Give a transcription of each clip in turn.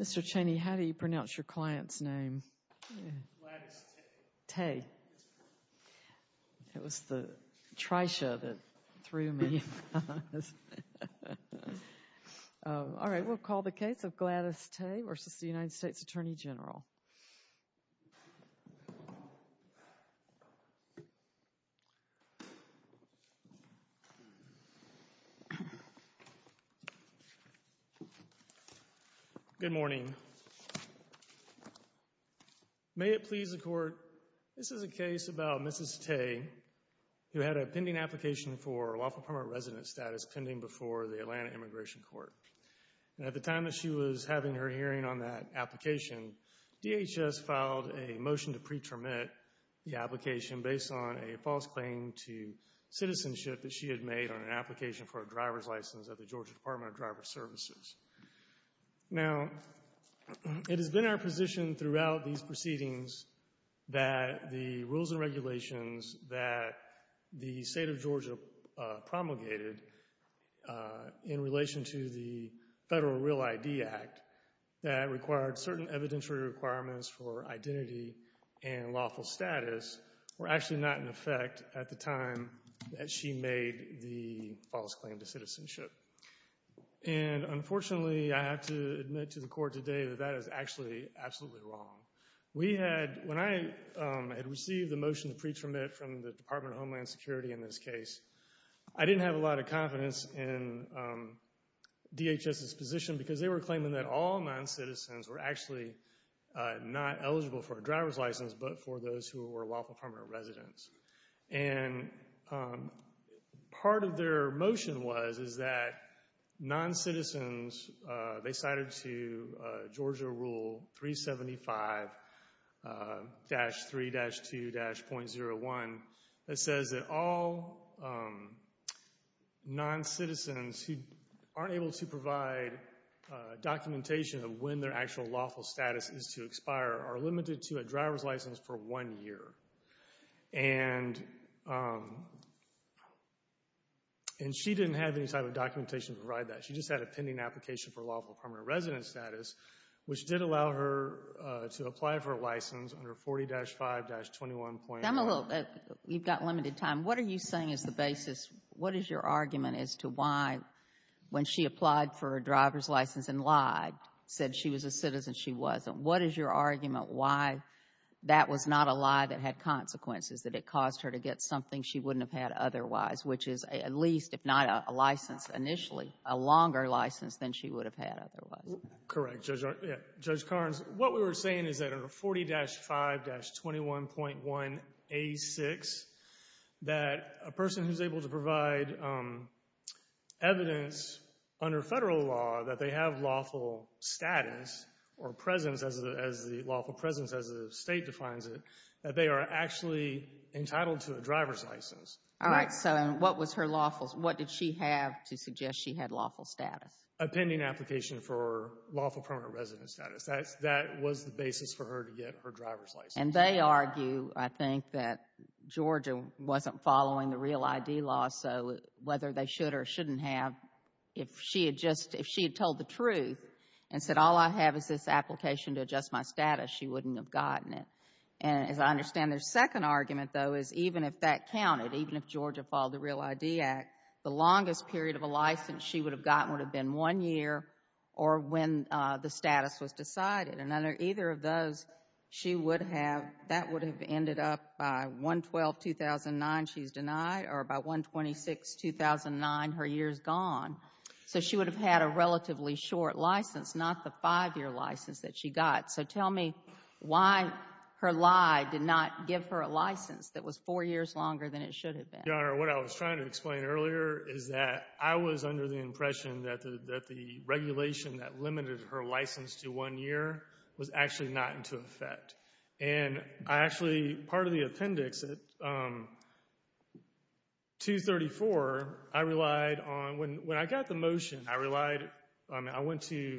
Mr. Cheney, how do you pronounce your client's name? Gladys Teye. Yes, ma'am. It was the trisha that threw me. All right, we'll call the case of Gladys Teye v. U.S. Attorney General. Gladys Teye v. U.S. Attorney General Good morning. May it please the Court, this is a case about Mrs. Teye, who had a pending application for lawful permanent resident status pending before the Atlanta Immigration Court. At the time that she was having her hearing on that application, DHS filed a motion to pretermit the application based on a false claim to citizenship that she had made on an application for a driver's license at the Georgia Department of Driver Services. Now, it has been our position throughout these proceedings that the rules and regulations that the state of Georgia promulgated in relation to the Federal Real ID Act that required certain evidentiary requirements for identity and lawful status were actually not in effect at the time that she made the false claim to citizenship. And unfortunately, I have to admit to the Court today that that is actually absolutely wrong. When I had received the motion to pretermit from the Department of Homeland Security in this case, I didn't have a lot of confidence in DHS's position because they were claiming that all non-citizens were actually not eligible for a driver's license but for those who were lawful permanent residents. And part of their motion was is that non-citizens, they cited to Georgia Rule 375-3-2-.01 that says that all non-citizens who aren't able to provide documentation of when their actual lawful status is to expire are limited to a driver's license for one year. And she didn't have any type of documentation to provide that. She just had a pending application for lawful permanent resident status, which did allow her to apply for a license under 40-5-21. You've got limited time. What are you saying is the basis? What is your argument as to why, when she applied for a driver's license and lied, said she was a citizen, she wasn't? What is your argument why that was not a lie that had consequences, that it caused her to get something she wouldn't have had otherwise, which is at least, if not a license initially, a longer license than she would have had otherwise? Correct. Judge Karnes, what we were saying is that under 40-5-21.1A6, that a person who's able to provide evidence under federal law that they have lawful status or presence as the lawful presence as the state defines it, that they are actually entitled to a driver's license. All right. So what was her lawful? What did she have to suggest she had lawful status? A pending application for lawful permanent resident status. That was the basis for her to get her driver's license. And they argue, I think, that Georgia wasn't following the REAL ID law, so whether they should or shouldn't have, if she had told the truth and said, all I have is this application to adjust my status, she wouldn't have gotten it. And as I understand their second argument, though, is even if that counted, even if Georgia followed the REAL ID Act, the longest period of a license she would have gotten would have been one year or when the status was decided. And under either of those, she would have, that would have ended up by 1-12-2009, she's denied, or by 1-26-2009, her year's gone. So she would have had a relatively short license, not the five-year license that she got. So tell me why her lie did not give her a license that was four years longer than it should have been. Your Honor, what I was trying to explain earlier is that I was under the impression that the regulation that limited her license to one year was actually not into effect. And I actually, part of the appendix at 234, I relied on, when I got the motion, I relied, I went to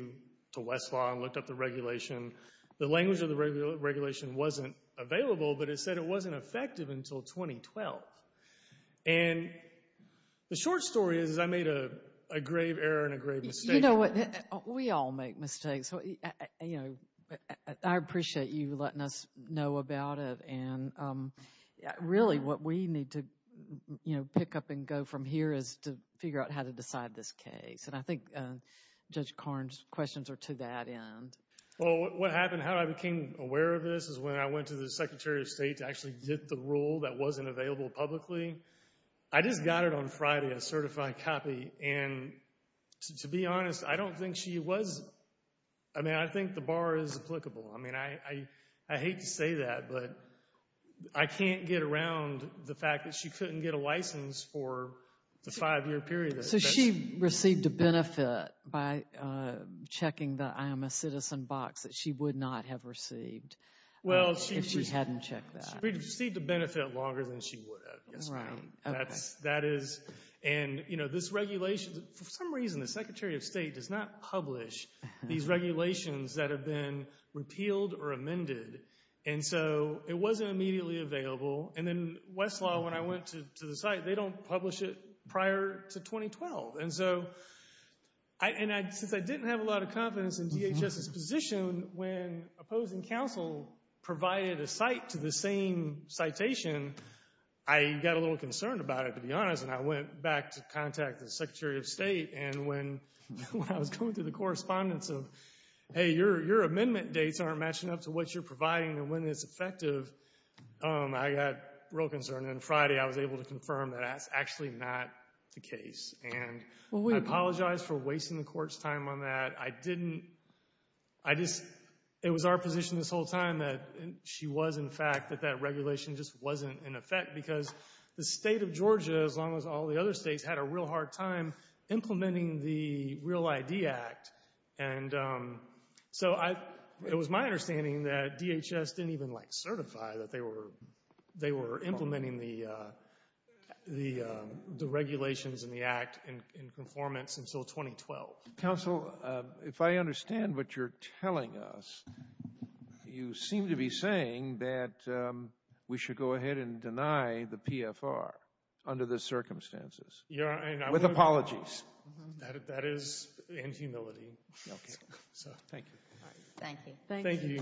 Westlaw and looked up the regulation. The language of the regulation wasn't available, but it said it wasn't effective until 2012. And the short story is I made a grave error and a grave mistake. You know what, we all make mistakes. You know, I appreciate you letting us know about it. And really what we need to, you know, pick up and go from here is to figure out how to decide this case. And I think Judge Karn's questions are to that end. Well, what happened, how I became aware of this is when I went to the Secretary of State to actually get the rule that wasn't available publicly. I just got it on Friday, a certified copy, and to be honest, I don't think she was, I mean, I think the bar is applicable. I mean, I hate to say that, but I can't get around the fact that she couldn't get a license for the five-year period. So she received a benefit by checking the I am a citizen box that she would not have received if she hadn't checked that. She received a benefit longer than she would have. That is, and, you know, this regulation, for some reason the Secretary of State does not publish these regulations that have been repealed or amended. And so it wasn't immediately available. And then Westlaw, when I went to the site, they don't publish it prior to 2012. And so, since I didn't have a lot of confidence in DHS's position when opposing counsel provided a site to the same citation, I got a little concerned about it, to be honest, and I went back to contact the Secretary of State. And when I was going through the correspondence of, hey, your amendment dates aren't matching up to what you're providing and when it's effective, I got real concerned. And then Friday I was able to confirm that that's actually not the case. And I apologize for wasting the Court's time on that. I didn't, I just, it was our position this whole time that she was, in fact, that that regulation just wasn't in effect because the state of Georgia, as long as all the other states, had a real hard time implementing the Real ID Act. And so it was my understanding that DHS didn't even, like, certify that they were implementing the regulations and the Act in conformance until 2012. Counsel, if I understand what you're telling us, you seem to be saying that we should go ahead and deny the PFR under the circumstances. With apologies. That is in humility. Okay. So, thank you. Thank you. Thank you.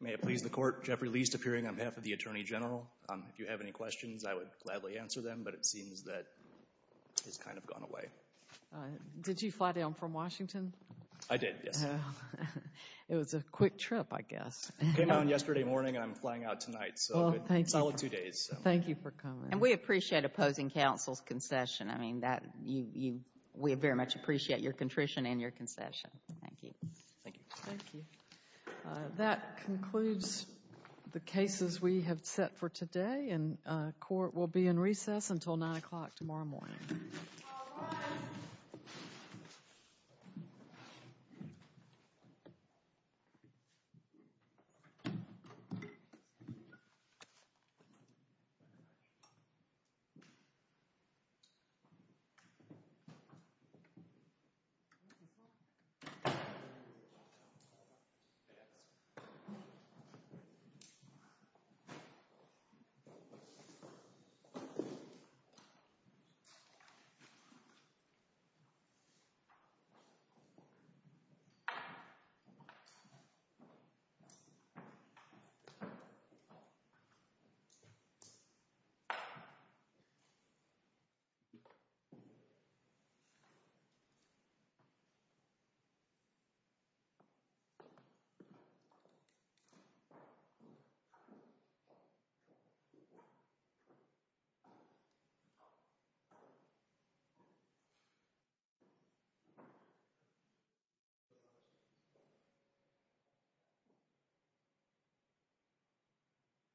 May it please the Court, Jeffrey Leist appearing on behalf of the Attorney General. If you have any questions, I would gladly answer them, but it seems that it's kind of gone away. Did you fly down from Washington? I did, yes. It was a quick trip, I guess. I came down yesterday morning, and I'm flying out tonight, so it's a solid two days. Thank you for coming. And we appreciate opposing counsel's concession. I mean, we very much appreciate your contrition and your concession. Thank you. Thank you. Thank you. That concludes the cases we have set for today, and court will be in recess until 9 o'clock tomorrow morning. All rise. Thank you.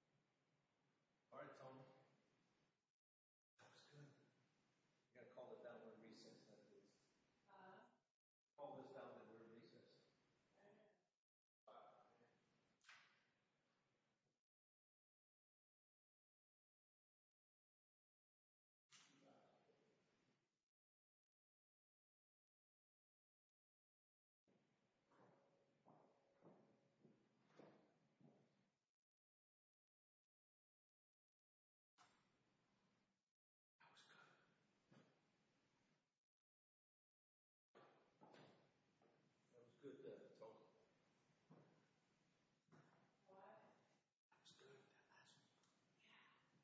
Thank you. All right, Tonya. That was good. You've got to call the bell during recess. Call this bell during recess. Okay. All right. Thank you. Mrs. Martin! That was good. That was good then that's all. What? That was good, that last one. Yeah.